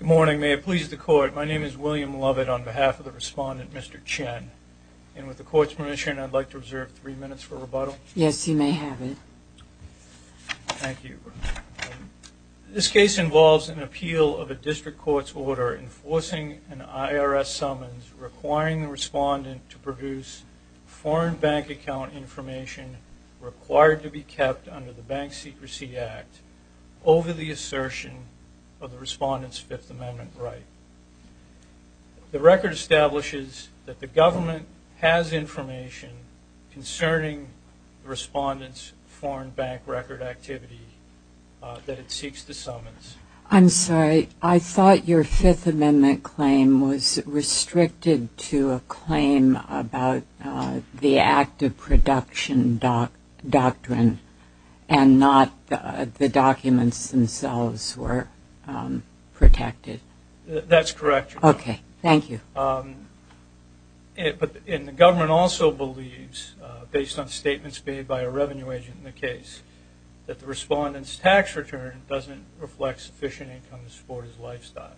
Good morning may it please the court my name is William Lovett on behalf of the respondent Mr. Chen and with the court's permission I'd like to reserve three minutes to address the case. Mr. Lovett. Yes you may have it. Thank you. This case involves an appeal of a district court's order enforcing an IRS summons requiring the respondent to produce foreign bank account information required to be kept under the Bank Secrecy Act over the assertion of the respondent's Fifth Amendment right. The record establishes that the government has information concerning respondents foreign bank record activity that it seeks to summons. I'm sorry I thought your Fifth Amendment claim was restricted to a claim about the act of production doctrine and not the documents themselves were protected. That's made by a revenue agent in the case that the respondent's tax return doesn't reflect sufficient income to support his lifestyle.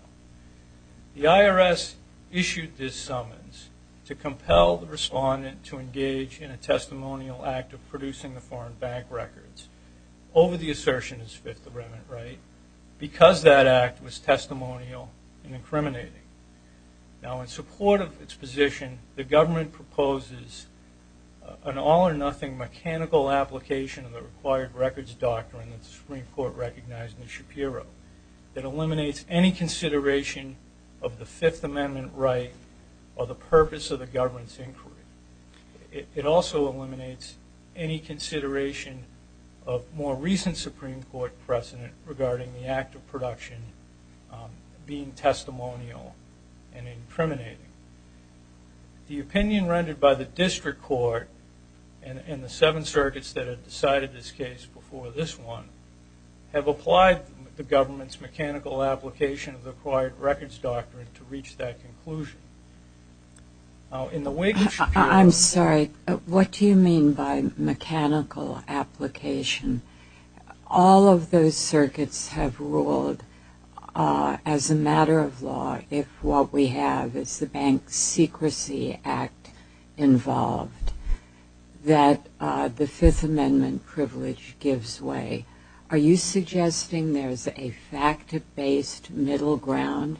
The IRS issued this summons to compel the respondent to engage in a testimonial act of producing the foreign bank records over the assertion is Fifth Amendment right because that act was testimonial and incriminating. Now in support of its position the government proposes an all-or-nothing mechanical application of the required records doctrine that the Supreme Court recognized in the Shapiro that eliminates any consideration of the Fifth Amendment right or the purpose of the government's inquiry. It also eliminates any consideration of more recent Supreme Court precedent regarding the act of production being testimonial and rendered by the district court and the seven circuits that have decided this case before this one have applied the government's mechanical application of the required records doctrine to reach that conclusion. I'm sorry what do you mean by mechanical application? All of those circuits have ruled as a matter of fact involved that the Fifth Amendment privilege gives way. Are you suggesting there's a fact-based middle ground?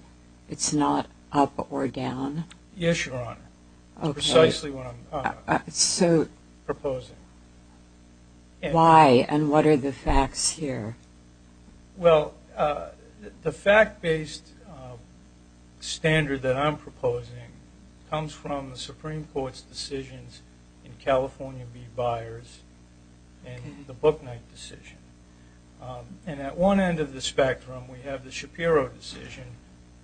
It's not up or down? Yes, Your Honor. Precisely what I'm proposing. Why and what are the facts here? Well the fact-based standard that I'm proposing comes from the Supreme Court's decisions in California B. Byers and the Booknight decision and at one end of the spectrum we have the Shapiro decision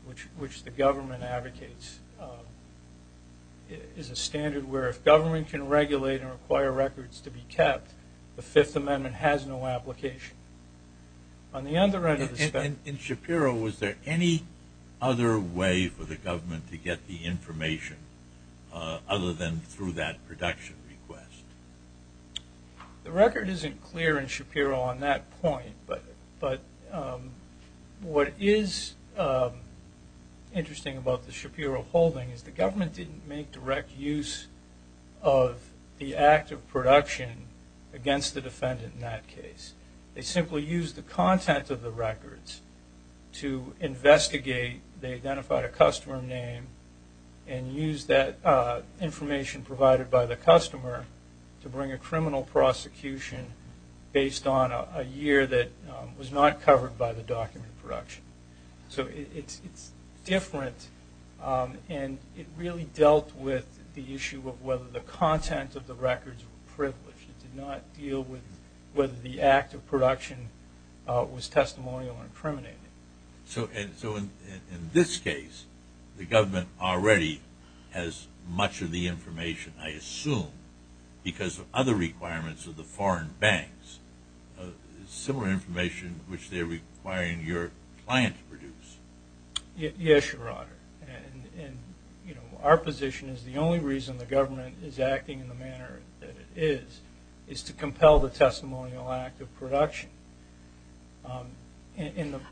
which which the government advocates is a standard where if government can regulate and require records to be kept the Fifth Amendment has no application. On the other end of the spectrum. In Shapiro was there any other way for the government to get the information other than through that production request? The record isn't clear in Shapiro on that point but but what is interesting about the Shapiro holding is the government didn't make direct use of the act of production against the defendant in that They simply used the content of the records to investigate. They identified a customer name and used that information provided by the customer to bring a criminal prosecution based on a year that was not covered by the document production. So it's different and it really dealt with the issue of whether the content of the records were privileged. It did not deal with whether the act of production was testimonial or incriminating. So in this case the government already has much of the information I assume because of other requirements of the foreign banks similar information which they're requiring your client to produce. Yes your honor and you know our position is the only reason the government is acting in the manner that it is is to compel the testimonial act of production.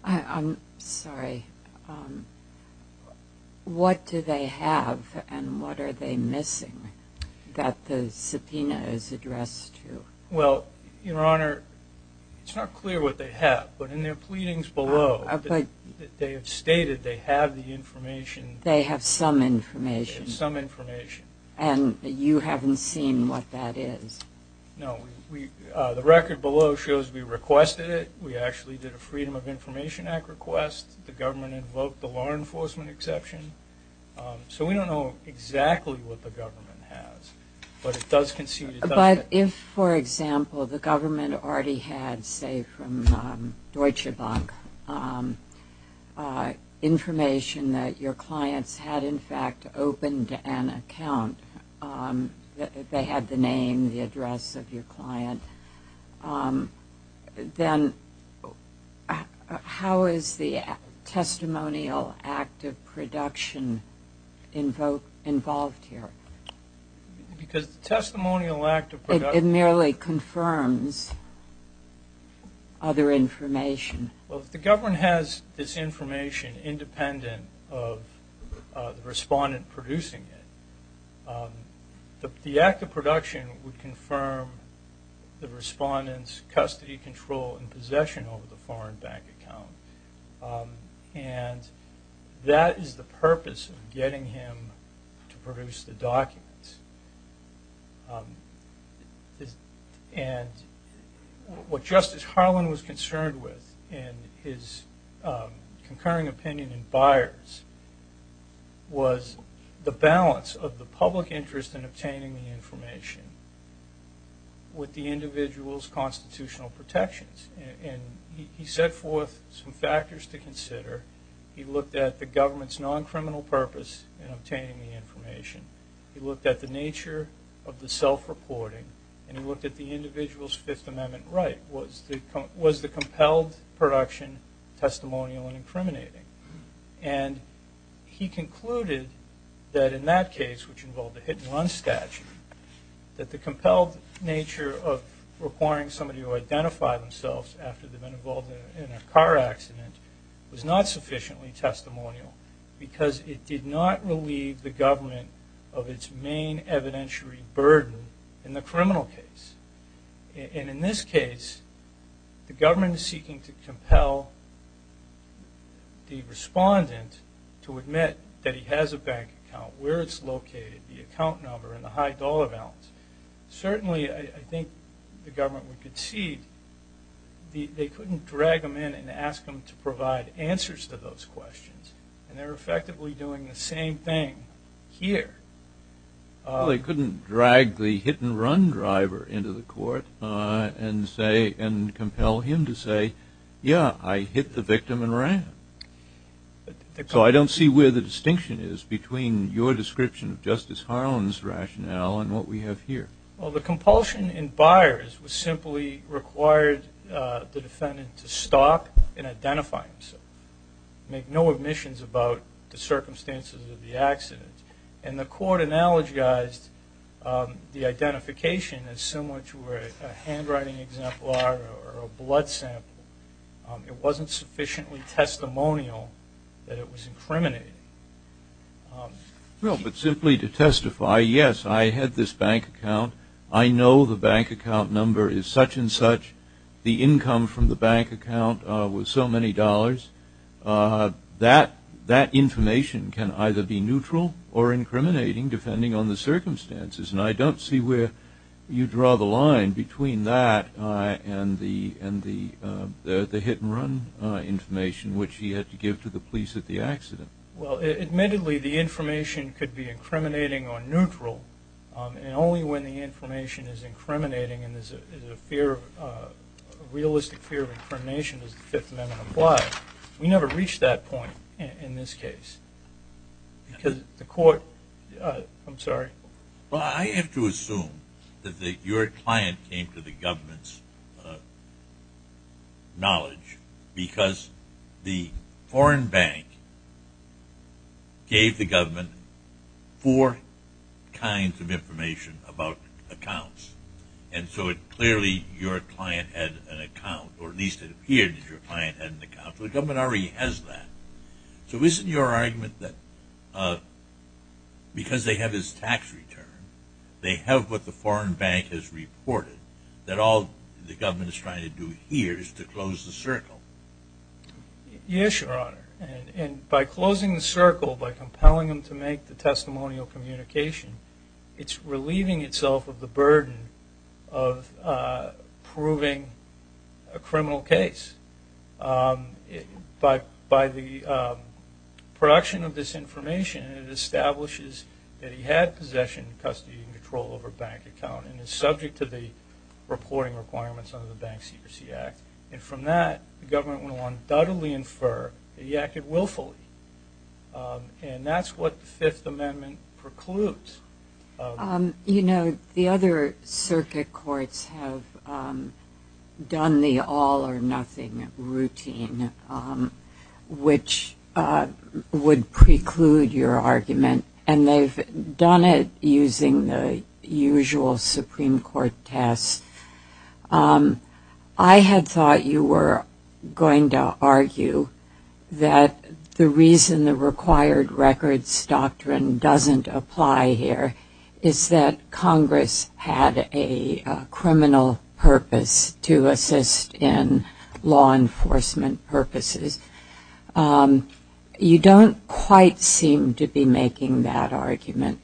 I'm sorry what do they have and what are they missing that the subpoena is addressed to? Well your honor it's not clear what they have but in their pleadings below they have stated they have the information. And you haven't seen what that is? No we the record below shows we requested it we actually did a Freedom of Information Act request the government invoked the law enforcement exception so we don't know exactly what the government has but it does concede. But if for example the government already had say from Deutsche Bank information that your clients had in account that they had the name the address of your client then how is the testimonial act of production invoked involved here? Because the testimonial act of production. It merely confirms other information. Well if the government has this the act of production would confirm the respondents custody control and possession over the foreign bank account and that is the purpose of getting him to produce the documents. And what Justice Harlan was concerned with in his public interest in obtaining the information with the individual's constitutional protections and he set forth some factors to consider. He looked at the government's non-criminal purpose in obtaining the information. He looked at the nature of the self-reporting and he looked at the individual's Fifth Amendment right. Was the compelled production testimonial and the hit and run statute that the compelled nature of requiring somebody to identify themselves after they've been involved in a car accident was not sufficiently testimonial because it did not relieve the government of its main evidentiary burden in the criminal case. And in this case the government is seeking to compel the respondent to admit that he has a bank account where it's located the account number and the high dollar balance. Certainly I think the government would concede they couldn't drag them in and ask them to provide answers to those questions and they're effectively doing the same thing here. They couldn't drag the hit-and-run driver into the court and say and compel him to say yeah I hit the victim and ran. So I don't see where the Justice Harlan's rationale and what we have here. Well the compulsion in Byers was simply required the defendant to stop and identify himself. Make no omissions about the circumstances of the accident and the court analogized the identification as similar to a handwriting exemplar or a blood sample. It wasn't sufficiently testimonial that it was incriminating. Well but simply to testify yes I had this bank account. I know the bank account number is such and such. The income from the bank account was so many dollars. That information can either be neutral or incriminating depending on the circumstances and I don't see where you draw the line between that and the hit-and-run information which he had to give to the police at the accident. Well admittedly the information could be incriminating or neutral and only when the information is incriminating and there's a realistic fear of incrimination as the Fifth Amendment applies. We never reached that point in this case because the court, I'm sorry. Well I have to assume that your client came to the government's knowledge because the foreign bank gave the government four kinds of information about accounts and so it clearly your client had an account or at least it appeared that your client had an account. The government already has that. So isn't your argument that because they have his tax return they have what the government is trying to do here is to close the circle? Yes your honor and by closing the circle by compelling them to make the testimonial communication it's relieving itself of the burden of proving a criminal case. By the production of this information it establishes that he had possession custody and control over bank account and is subject to the reporting requirements under the Bank Secrecy Act and from that the government will undoubtedly infer he acted willfully and that's what the Fifth Amendment precludes. You know the other circuit courts have done the all-or-nothing routine which would preclude your argument and they've done it using the usual Supreme Court test. I had thought you were going to argue that the reason the required records doctrine doesn't apply here is that Congress had a criminal purpose to you don't quite seem to be making that argument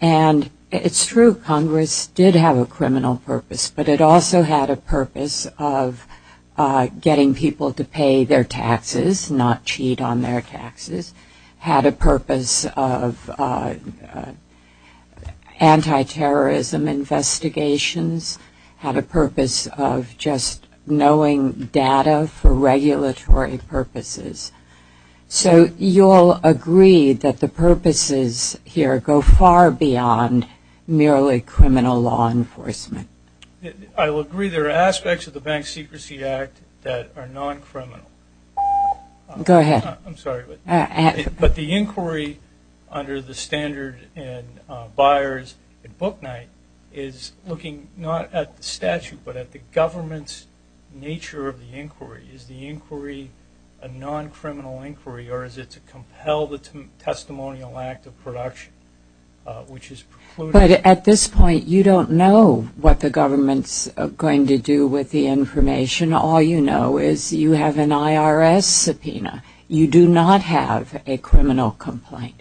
and it's true Congress did have a criminal purpose but it also had a purpose of getting people to pay their taxes not cheat on their taxes, had a purpose of anti-terrorism investigations, had a purpose of just knowing data for regulatory purposes. So you'll agree that the purposes here go far beyond merely criminal law enforcement. I will agree there are aspects of the Bank Secrecy Act that are non-criminal. Go ahead. I'm sorry but the inquiry under the standard in Byers and Booknight is looking not at the statute but at the government's nature of the inquiry. Is the inquiry a non-criminal inquiry or is it to compel the testimonial act of production which is precluded? But at this point you don't know what the government's going to do with the information. All you know is you have an IRS subpoena. You do not have a criminal complaint.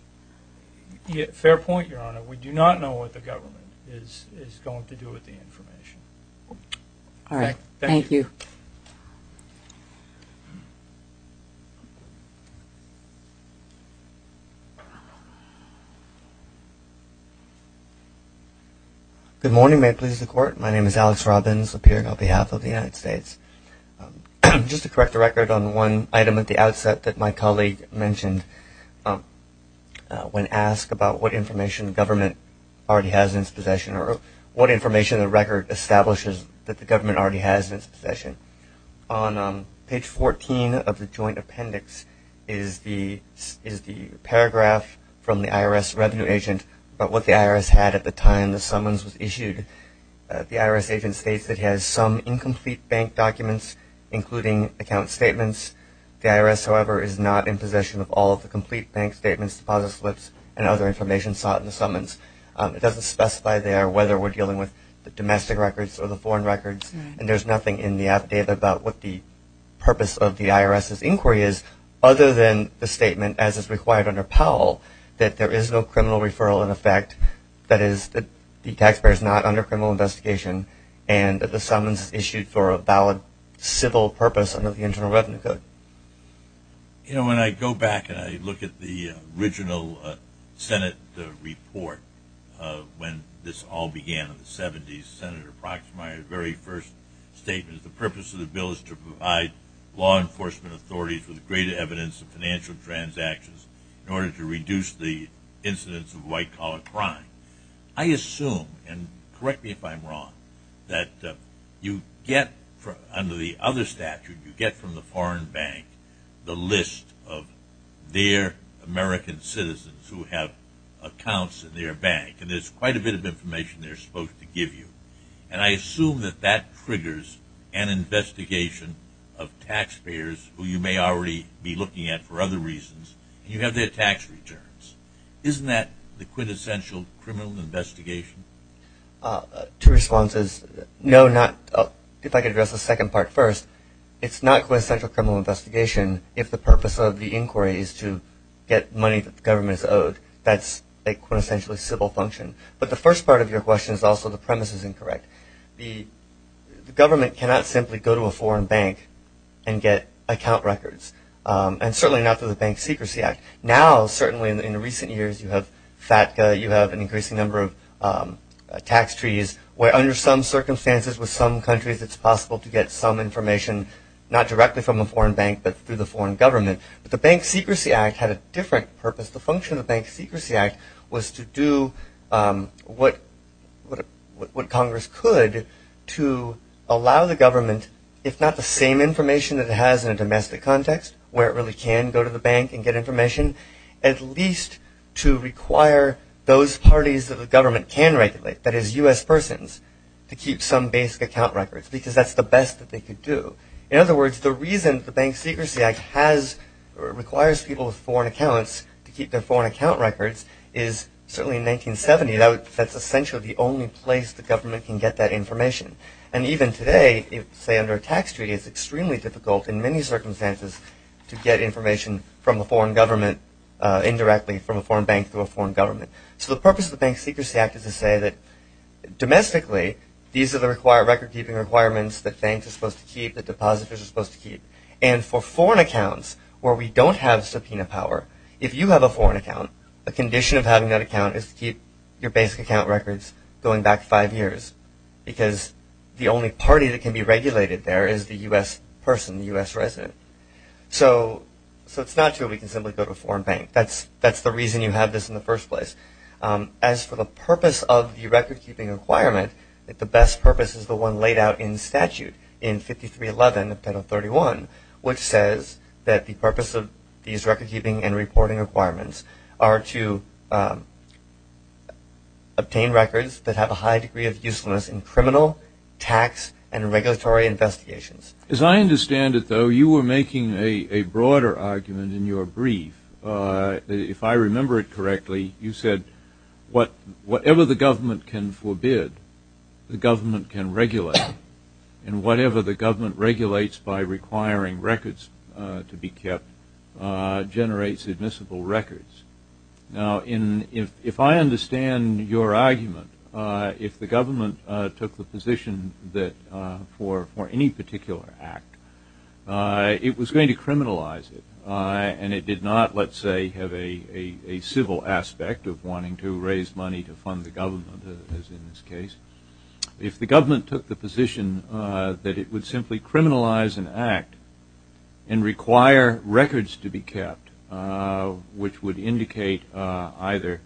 Fair point, Your Honor. We do not know what the government is going to do with the information. All right. Thank you. Good morning. May it please the Court. My name is Alex Robbins appearing on behalf of the United States. Just to correct the record on one item at the outset that my colleague mentioned. When asked about what information the government already has in its possession or what information the record establishes that the government already has in its possession. On page 14 of the joint appendix is the paragraph from the IRS revenue agent about what the IRS had at the time the summons was issued. The IRS agent states it has some incomplete bank documents including account statements. The IRS however is not in possession of all of the complete bank statements, deposit slips and other information sought in the summons. It doesn't specify there whether we're dealing with the domestic records or the foreign records and there's nothing in the affidavit about what the purpose of the IRS's inquiry is other than the statement as is required under Powell that there is no criminal referral in effect. That is that the taxpayer is not under criminal investigation and that the summons is issued for a valid civil purpose under the Internal Revenue Code. You know when I go back and I look at the original Senate report when this all began in the 70s, Senator Proxmire's very first statement is the purpose of the bill is to provide law enforcement authorities with greater evidence of financial transactions in order to reduce the incidence of white collar crime. I assume, and correct me if I'm wrong, that you get under the other statute, you get from the foreign bank the list of their American citizens who have accounts in their bank and there's quite a bit of information they're supposed to give you. And I assume that that triggers an investigation of taxpayers who you may already be looking at for other reasons and you have their tax returns. Isn't that the quintessential criminal investigation? Two responses. No, if I could address the second part first. It's not quintessential criminal investigation if the purpose of the inquiry is to get money that the government is owed. That's a quintessentially civil function. But the first part of your question is also the premise is incorrect. The government cannot simply go to a foreign bank and get account records. And certainly not through the Bank Secrecy Act. Now, certainly in recent years, you have FATCA, you have an increasing number of tax treaties where under some circumstances with some countries it's possible to get some information not directly from a foreign bank but through the foreign government. But the Bank Secrecy Act had a different purpose. The function of the Bank Secrecy Act was to do what Congress could to allow the government, if not the same information that it has in a domestic context where it really can go to the bank and get information, at least to require those parties that the government can regulate, that is U.S. persons, to keep some basic account records because that's the best that they could do. In other words, the reason the Bank Secrecy Act has or requires people with foreign accounts to keep their foreign account records is certainly in 1970 that's essentially the only place the government can get that information. And even today, say under a tax treaty, it's extremely difficult in many circumstances to get information from a foreign government indirectly from a foreign bank to a foreign government. So the purpose of the Bank Secrecy Act is to say that domestically these are the record-keeping requirements that banks are supposed to keep, that depositors are supposed to keep. And for foreign accounts where we don't have subpoena power, if you have a foreign account, a condition of having that account is to keep your basic account records going back five years because the only party that can be regulated there is the U.S. person, the U.S. resident. So it's not true we can simply go to a foreign bank. That's the reason you have this in the first place. As for the purpose of the record-keeping requirement, the best purpose is the one laid out in statute in 5311 of Penal 31, which says that the purpose of these record-keeping and reporting requirements are to obtain records that have a high degree of usefulness in criminal, tax, and regulatory investigations. As I understand it, though, you were making a broader argument in your brief. If I remember it correctly, you said whatever the government can forbid, the government can regulate. And whatever the government regulates by requiring records to be kept generates admissible records. Now, if I understand your argument, if the government took the position that for any particular act, it was going to criminalize it, and it did not, let's say, have a civil aspect of wanting to raise money to fund the government, as in this case. If the government took the position that it would simply criminalize an act and require records to be kept, which would indicate either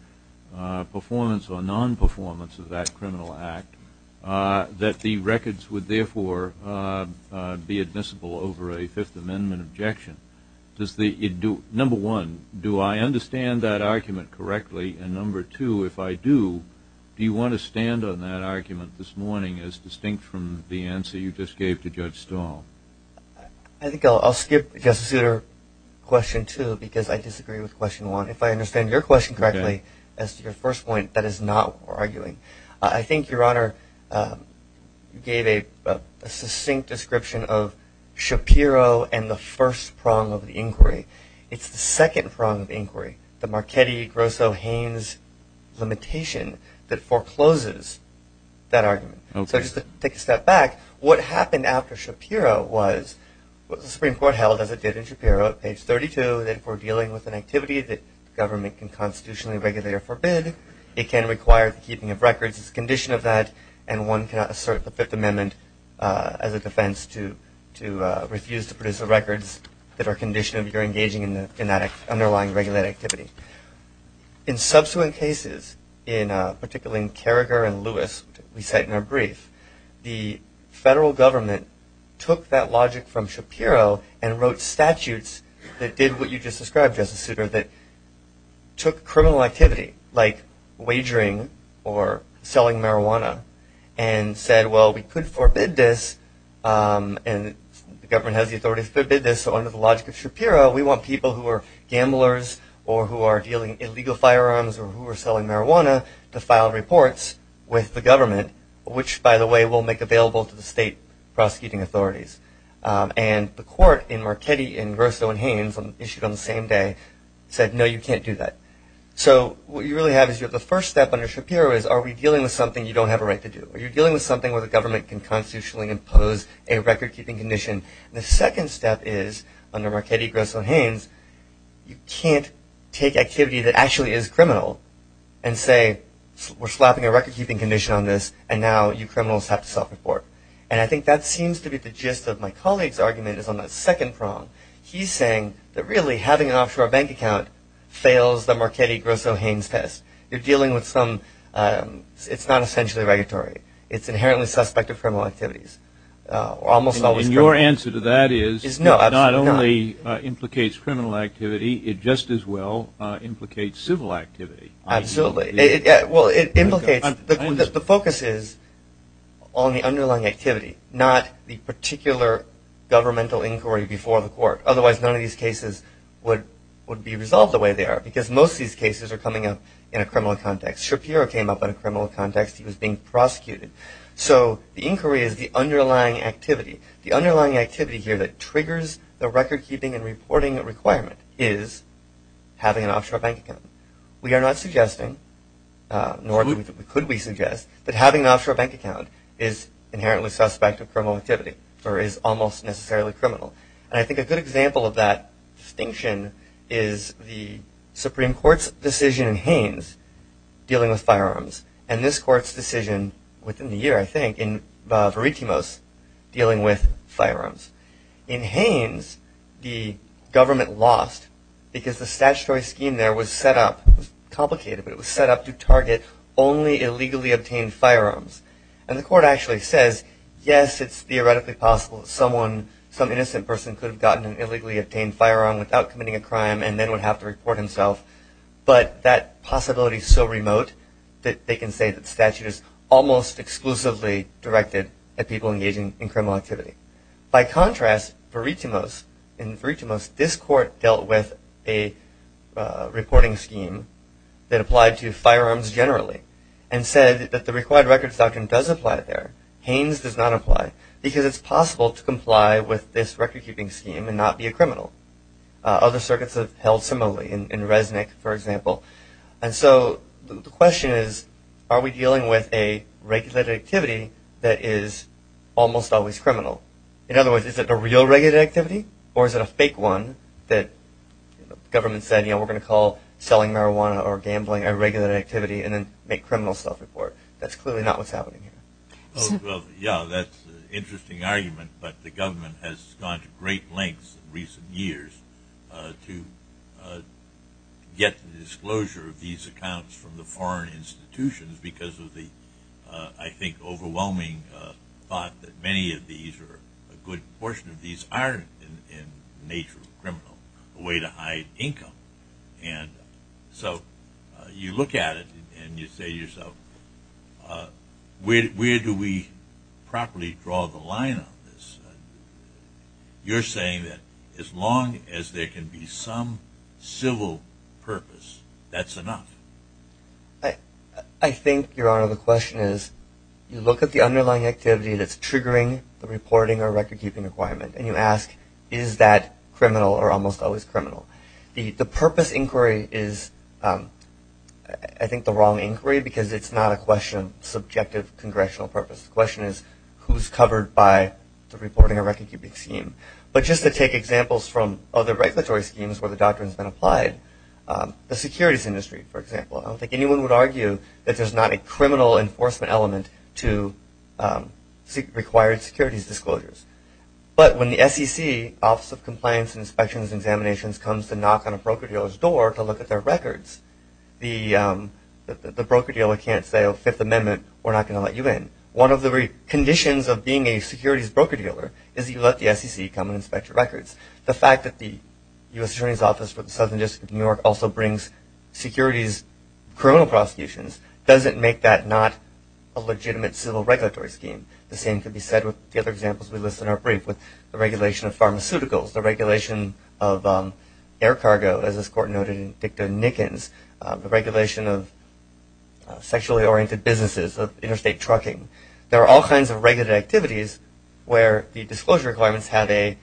performance or non-performance of that criminal act, that the records would therefore be admissible over a Fifth Amendment objection. Number one, do I understand that argument correctly? And number two, if I do, do you want to stand on that argument this morning as distinct from the answer you just gave to Judge Stahl? I think I'll skip Justice Souter's question, too, because I disagree with question one. If I understand your question correctly, as to your first point, that is not arguing. I think Your Honor gave a succinct description of Shapiro and the first prong of the inquiry. It's the second prong of inquiry, the Marchetti-Grosso-Haines limitation that forecloses that argument. So just to take a step back, what happened after Shapiro was the Supreme Court held, as it did in Shapiro, at page 32, that if we're dealing with an activity that the government can constitutionally regulate or forbid, it can require the keeping of records as a condition of that. And one cannot assert the Fifth Amendment as a defense to refuse to produce the records that are a condition of your engaging in that underlying regulated activity. In subsequent cases, particularly in Carragher and Lewis, which we cite in our brief, the federal government took that logic from Shapiro and wrote statutes that did what you just described, Justice Souter, that took criminal activity, like wagering or selling marijuana, and said, well, we could forbid this. And the government has the authority to forbid this. So under the logic of Shapiro, we want people who are gamblers or who are dealing illegal firearms or who are selling marijuana to file reports with the government, which, by the way, will make available to the state prosecuting authorities. And the court in Marchetti and Grosso and Haynes, issued on the same day, said, no, you can't do that. So what you really have is you have the first step under Shapiro is, are we dealing with something you don't have a right to do? Are you dealing with something where the government can constitutionally impose a record-keeping condition? The second step is, under Marchetti, Grosso, and Haynes, you can't take activity that actually is criminal and say, we're slapping a record-keeping condition on this, and now you criminals have to self-report. And I think that seems to be the gist of my colleague's argument is on the second prong. He's saying that, really, having an offshore bank account fails the Marchetti-Grosso-Haynes test. You're dealing with some – it's not essentially regulatory. It's inherently suspected criminal activities. And your answer to that is, not only implicates criminal activity, it just as well implicates civil activity. Absolutely. Well, it implicates – the focus is on the underlying activity, not the particular governmental inquiry before the court. Otherwise, none of these cases would be resolved the way they are because most of these cases are coming up in a criminal context. Shapiro came up in a criminal context. He was being prosecuted. So the inquiry is the underlying activity. The underlying activity here that triggers the record-keeping and reporting requirement is having an offshore bank account. We are not suggesting, nor could we suggest, that having an offshore bank account is inherently suspect of criminal activity or is almost necessarily criminal. And I think a good example of that distinction is the Supreme Court's decision in Haynes dealing with firearms and this Court's decision within the year, I think, in Veritimos dealing with firearms. In Haynes, the government lost because the statutory scheme there was set up – it was complicated, but it was set up to target only illegally obtained firearms. And the Court actually says, yes, it's theoretically possible that someone, some innocent person could have gotten an illegally obtained firearm without committing a crime and then would have to report himself. But that possibility is so remote that they can say that statute is almost exclusively directed at people engaging in criminal activity. By contrast, Veritimos – in Veritimos, this Court dealt with a reporting scheme that applied to firearms generally and said that the required records doctrine does apply there. Haynes does not apply because it's possible to comply with this record-keeping scheme and not be a criminal. Other circuits have held similarly, in Resnick, for example. And so the question is, are we dealing with a regulated activity that is almost always criminal? In other words, is it a real regulated activity or is it a fake one that the government said, you know, we're going to call selling marijuana or gambling a regulated activity and then make criminal self-report? That's clearly not what's happening here. Yeah, that's an interesting argument. But the government has gone to great lengths in recent years to get the disclosure of these accounts from the foreign institutions because of the, I think, overwhelming thought that many of these or a good portion of these aren't in the nature of criminal, a way to hide income. And so you look at it and you say to yourself, where do we properly draw the line on this? You're saying that as long as there can be some civil purpose, that's enough. I think, Your Honor, the question is, you look at the underlying activity that's triggering the reporting or record-keeping requirement and you ask, is that criminal or almost always criminal? The purpose inquiry is, I think, the wrong inquiry because it's not a question of subjective congressional purpose. The question is, who's covered by the reporting or record-keeping scheme? But just to take examples from other regulatory schemes where the doctrine has been applied, the securities industry, for example, I don't think anyone would argue that there's not a criminal enforcement element to required securities disclosures. But when the SEC, Office of Compliance and Inspections and Examinations, comes to knock on a broker dealer's door to look at their records, the broker dealer can't say, oh, Fifth Amendment, we're not going to let you in. One of the conditions of being a securities broker dealer is you let the SEC come and inspect your records. The fact that the U.S. Attorney's Office for the Southern District of New York also brings securities criminal prosecutions doesn't make that not a legitimate civil regulatory scheme. The same could be said with the other examples we listed in our brief with the regulation of pharmaceuticals, the regulation of air cargo, as this Court noted in Dicta-Nickens, the regulation of sexually oriented businesses, of interstate trucking. There are all kinds of regulated activities where the disclosure requirements have a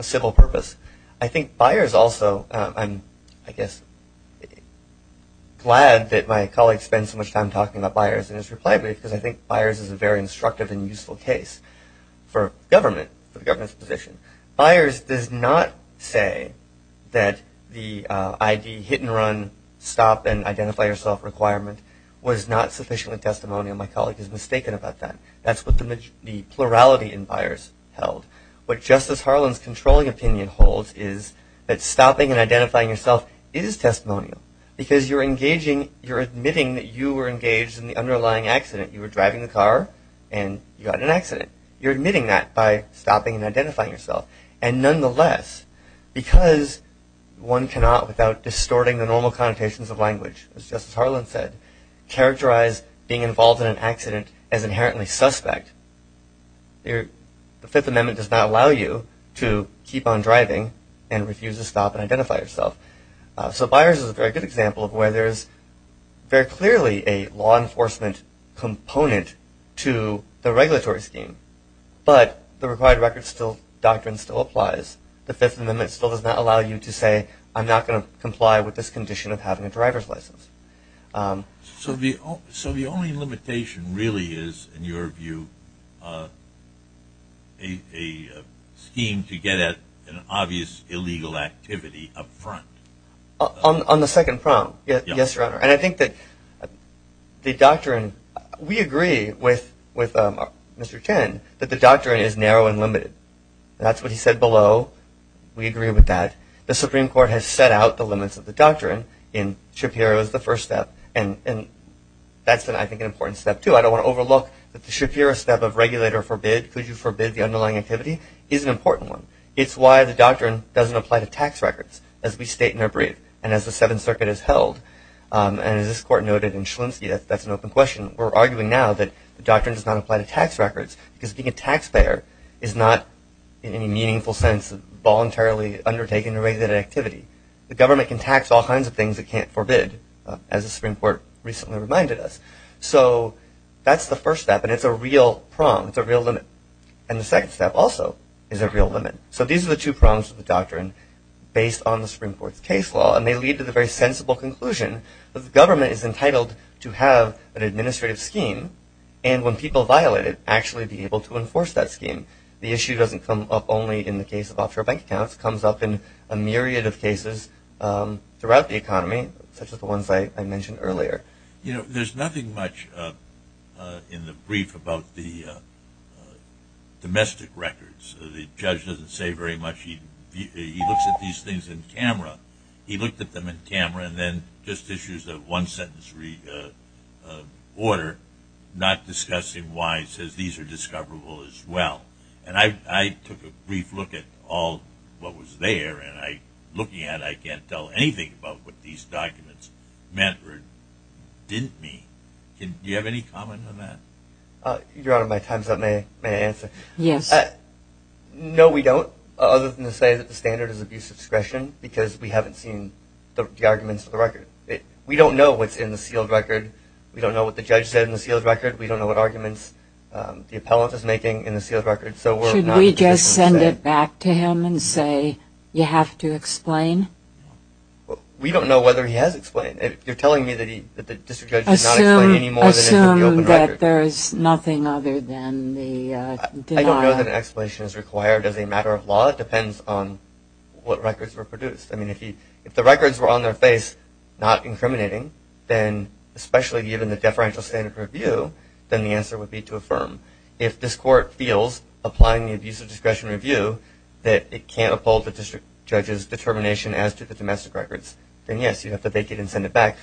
civil purpose. I think buyers also, I'm, I guess, glad that my colleague spent so much time talking about buyers and his reply because I think buyers is a very instructive and useful case for government, for the government's position. Buyers does not say that the ID hit and run stop and identify yourself requirement was not sufficiently testimonial. My colleague is mistaken about that. That's what the plurality in buyers held. What Justice Harlan's controlling opinion holds is that stopping and identifying yourself is testimonial because you're engaging, you're admitting that you were engaged in the underlying accident. You were driving the car and you got in an accident. You're admitting that by stopping and identifying yourself. And nonetheless, because one cannot without distorting the normal connotations of language, as Justice Harlan said, characterize being involved in an accident as inherently suspect. The Fifth Amendment does not allow you to keep on driving and refuse to stop and identify yourself. So buyers is a very good example of where there is very clearly a law enforcement component to the regulatory scheme. But the required records still, doctrine still applies. The Fifth Amendment still does not allow you to say I'm not going to comply with this condition of having a driver's license. So the only limitation really is, in your view, a scheme to get at an obvious illegal activity up front. On the second prompt, yes, Your Honor. And I think that the doctrine, we agree with Mr. Chen that the doctrine is narrow and limited. That's what he said below. We agree with that. The Supreme Court has set out the limits of the doctrine in Shapiro as the first step. And that's, I think, an important step, too. I don't want to overlook that the Shapiro step of regulator forbid, could you forbid the underlying activity, is an important one. It's why the doctrine doesn't apply to tax records as we state in our brief and as the Seventh Circuit has held. And as this Court noted in Shlimsky, that's an open question. We're arguing now that the doctrine does not apply to tax records because being a taxpayer is not, in any meaningful sense, voluntarily undertaking a regulated activity. The government can tax all kinds of things it can't forbid, as the Supreme Court recently reminded us. So that's the first step, and it's a real prong, it's a real limit. And the second step also is a real limit. So these are the two prongs of the doctrine based on the Supreme Court's case law, and they lead to the very sensible conclusion that the government is entitled to have an administrative scheme, the issue doesn't come up only in the case of offshore bank accounts, it comes up in a myriad of cases throughout the economy, such as the ones I mentioned earlier. You know, there's nothing much in the brief about the domestic records. The judge doesn't say very much. He looks at these things in camera. He looked at them in camera and then just issues a one-sentence order, not discussing why it says these are discoverable as well. And I took a brief look at all what was there, and looking at it, I can't tell anything about what these documents meant or didn't mean. Do you have any comment on that? Your Honor, my time's up. May I answer? Yes. No, we don't, other than to say that the standard is abuse of discretion, because we haven't seen the arguments for the record. We don't know what's in the sealed record. We don't know what the judge said in the sealed record. We don't know what arguments the appellant is making in the sealed record. Should we just send it back to him and say you have to explain? We don't know whether he has explained. You're telling me that the district judge has not explained any more than it should be open record. Assume that there is nothing other than the denial. I don't know that explanation is required as a matter of law. It depends on what records were produced. If the records were on their face, not incriminating, then especially given the deferential standard review, then the answer would be to affirm. If this Court feels, applying the abuse of discretion review, that it can't uphold the district judge's determination as to the domestic records, then, yes, you have to vacate and send it back.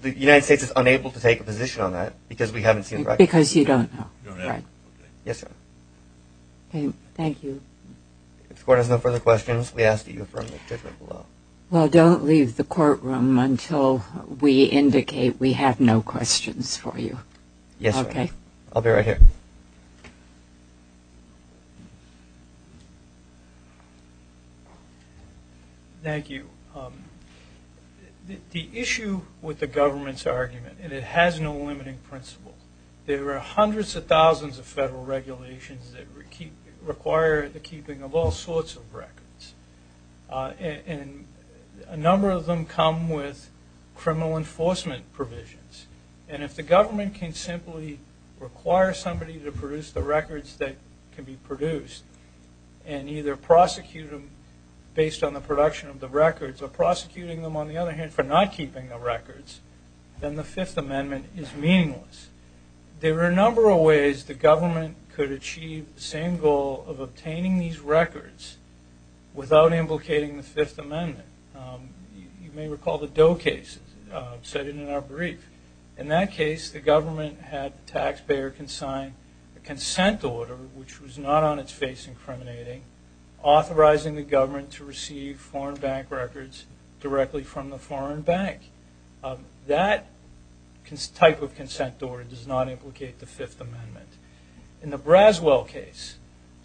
The United States is unable to take a position on that because we haven't seen the records. Because you don't know. Yes, Your Honor. Thank you. If the Court has no further questions, we ask that you affirm the judgment below. Well, don't leave the courtroom until we indicate we have no questions for you. Yes, Your Honor. I'll be right here. Thank you. The issue with the government's argument, and it has no limiting principle, there are hundreds of thousands of federal regulations that require the keeping of all sorts of records. And a number of them come with criminal enforcement provisions. And if the government can simply require somebody to produce the records that can be produced and either prosecute them based on the production of the records or prosecuting them, on the other hand, for not keeping the records, then the Fifth Amendment is meaningless. There are a number of ways the government could achieve the same goal of obtaining these records without implicating the Fifth Amendment. You may recall the Doe case. I've said it in our brief. In that case, the government had the taxpayer consign a consent order, which was not on its face incriminating, authorizing the government to receive foreign bank records directly from the foreign bank. That type of consent order does not implicate the Fifth Amendment. In the Braswell case...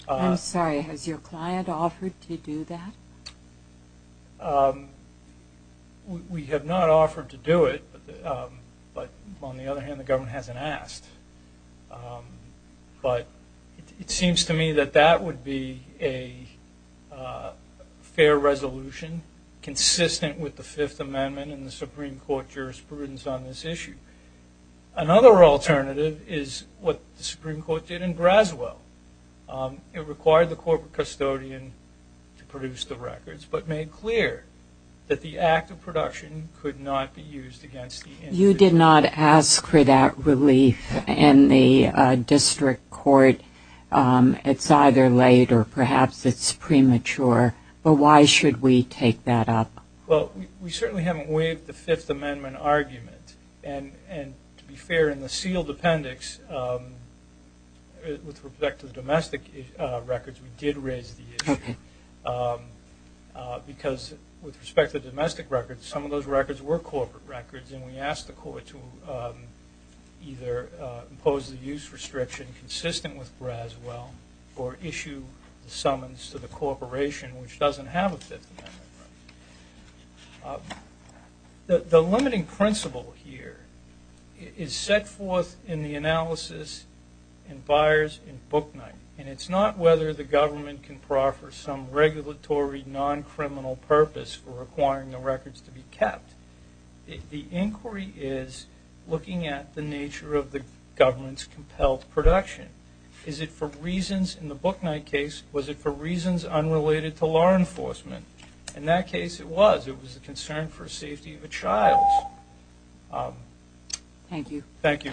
I'm sorry. Has your client offered to do that? We have not offered to do it, but on the other hand, the government hasn't asked. But it seems to me that that would be a fair resolution, consistent with the Fifth Amendment and the Supreme Court jurisprudence on this issue. Another alternative is what the Supreme Court did in Braswell. It required the corporate custodian to produce the records, but made clear that the act of production could not be used against the entity. You did not ask for that relief in the district court. It's either late or perhaps it's premature. But why should we take that up? Well, we certainly haven't waived the Fifth Amendment argument. And to be fair, in the sealed appendix, with respect to the domestic records, we did raise the issue. Because with respect to the domestic records, some of those records were corporate records, and we asked the court to either impose the use restriction consistent with Braswell or issue summons to the corporation, which doesn't have a Fifth Amendment. The limiting principle here is set forth in the analysis in Byers and Booknight. And it's not whether the government can proffer some regulatory, non-criminal purpose for requiring the records to be kept. The inquiry is looking at the nature of the government's compelled production. Is it for reasons in the Booknight case? Was it for reasons unrelated to law enforcement? In that case, it was. It was a concern for safety of a child. Thank you. Thank you.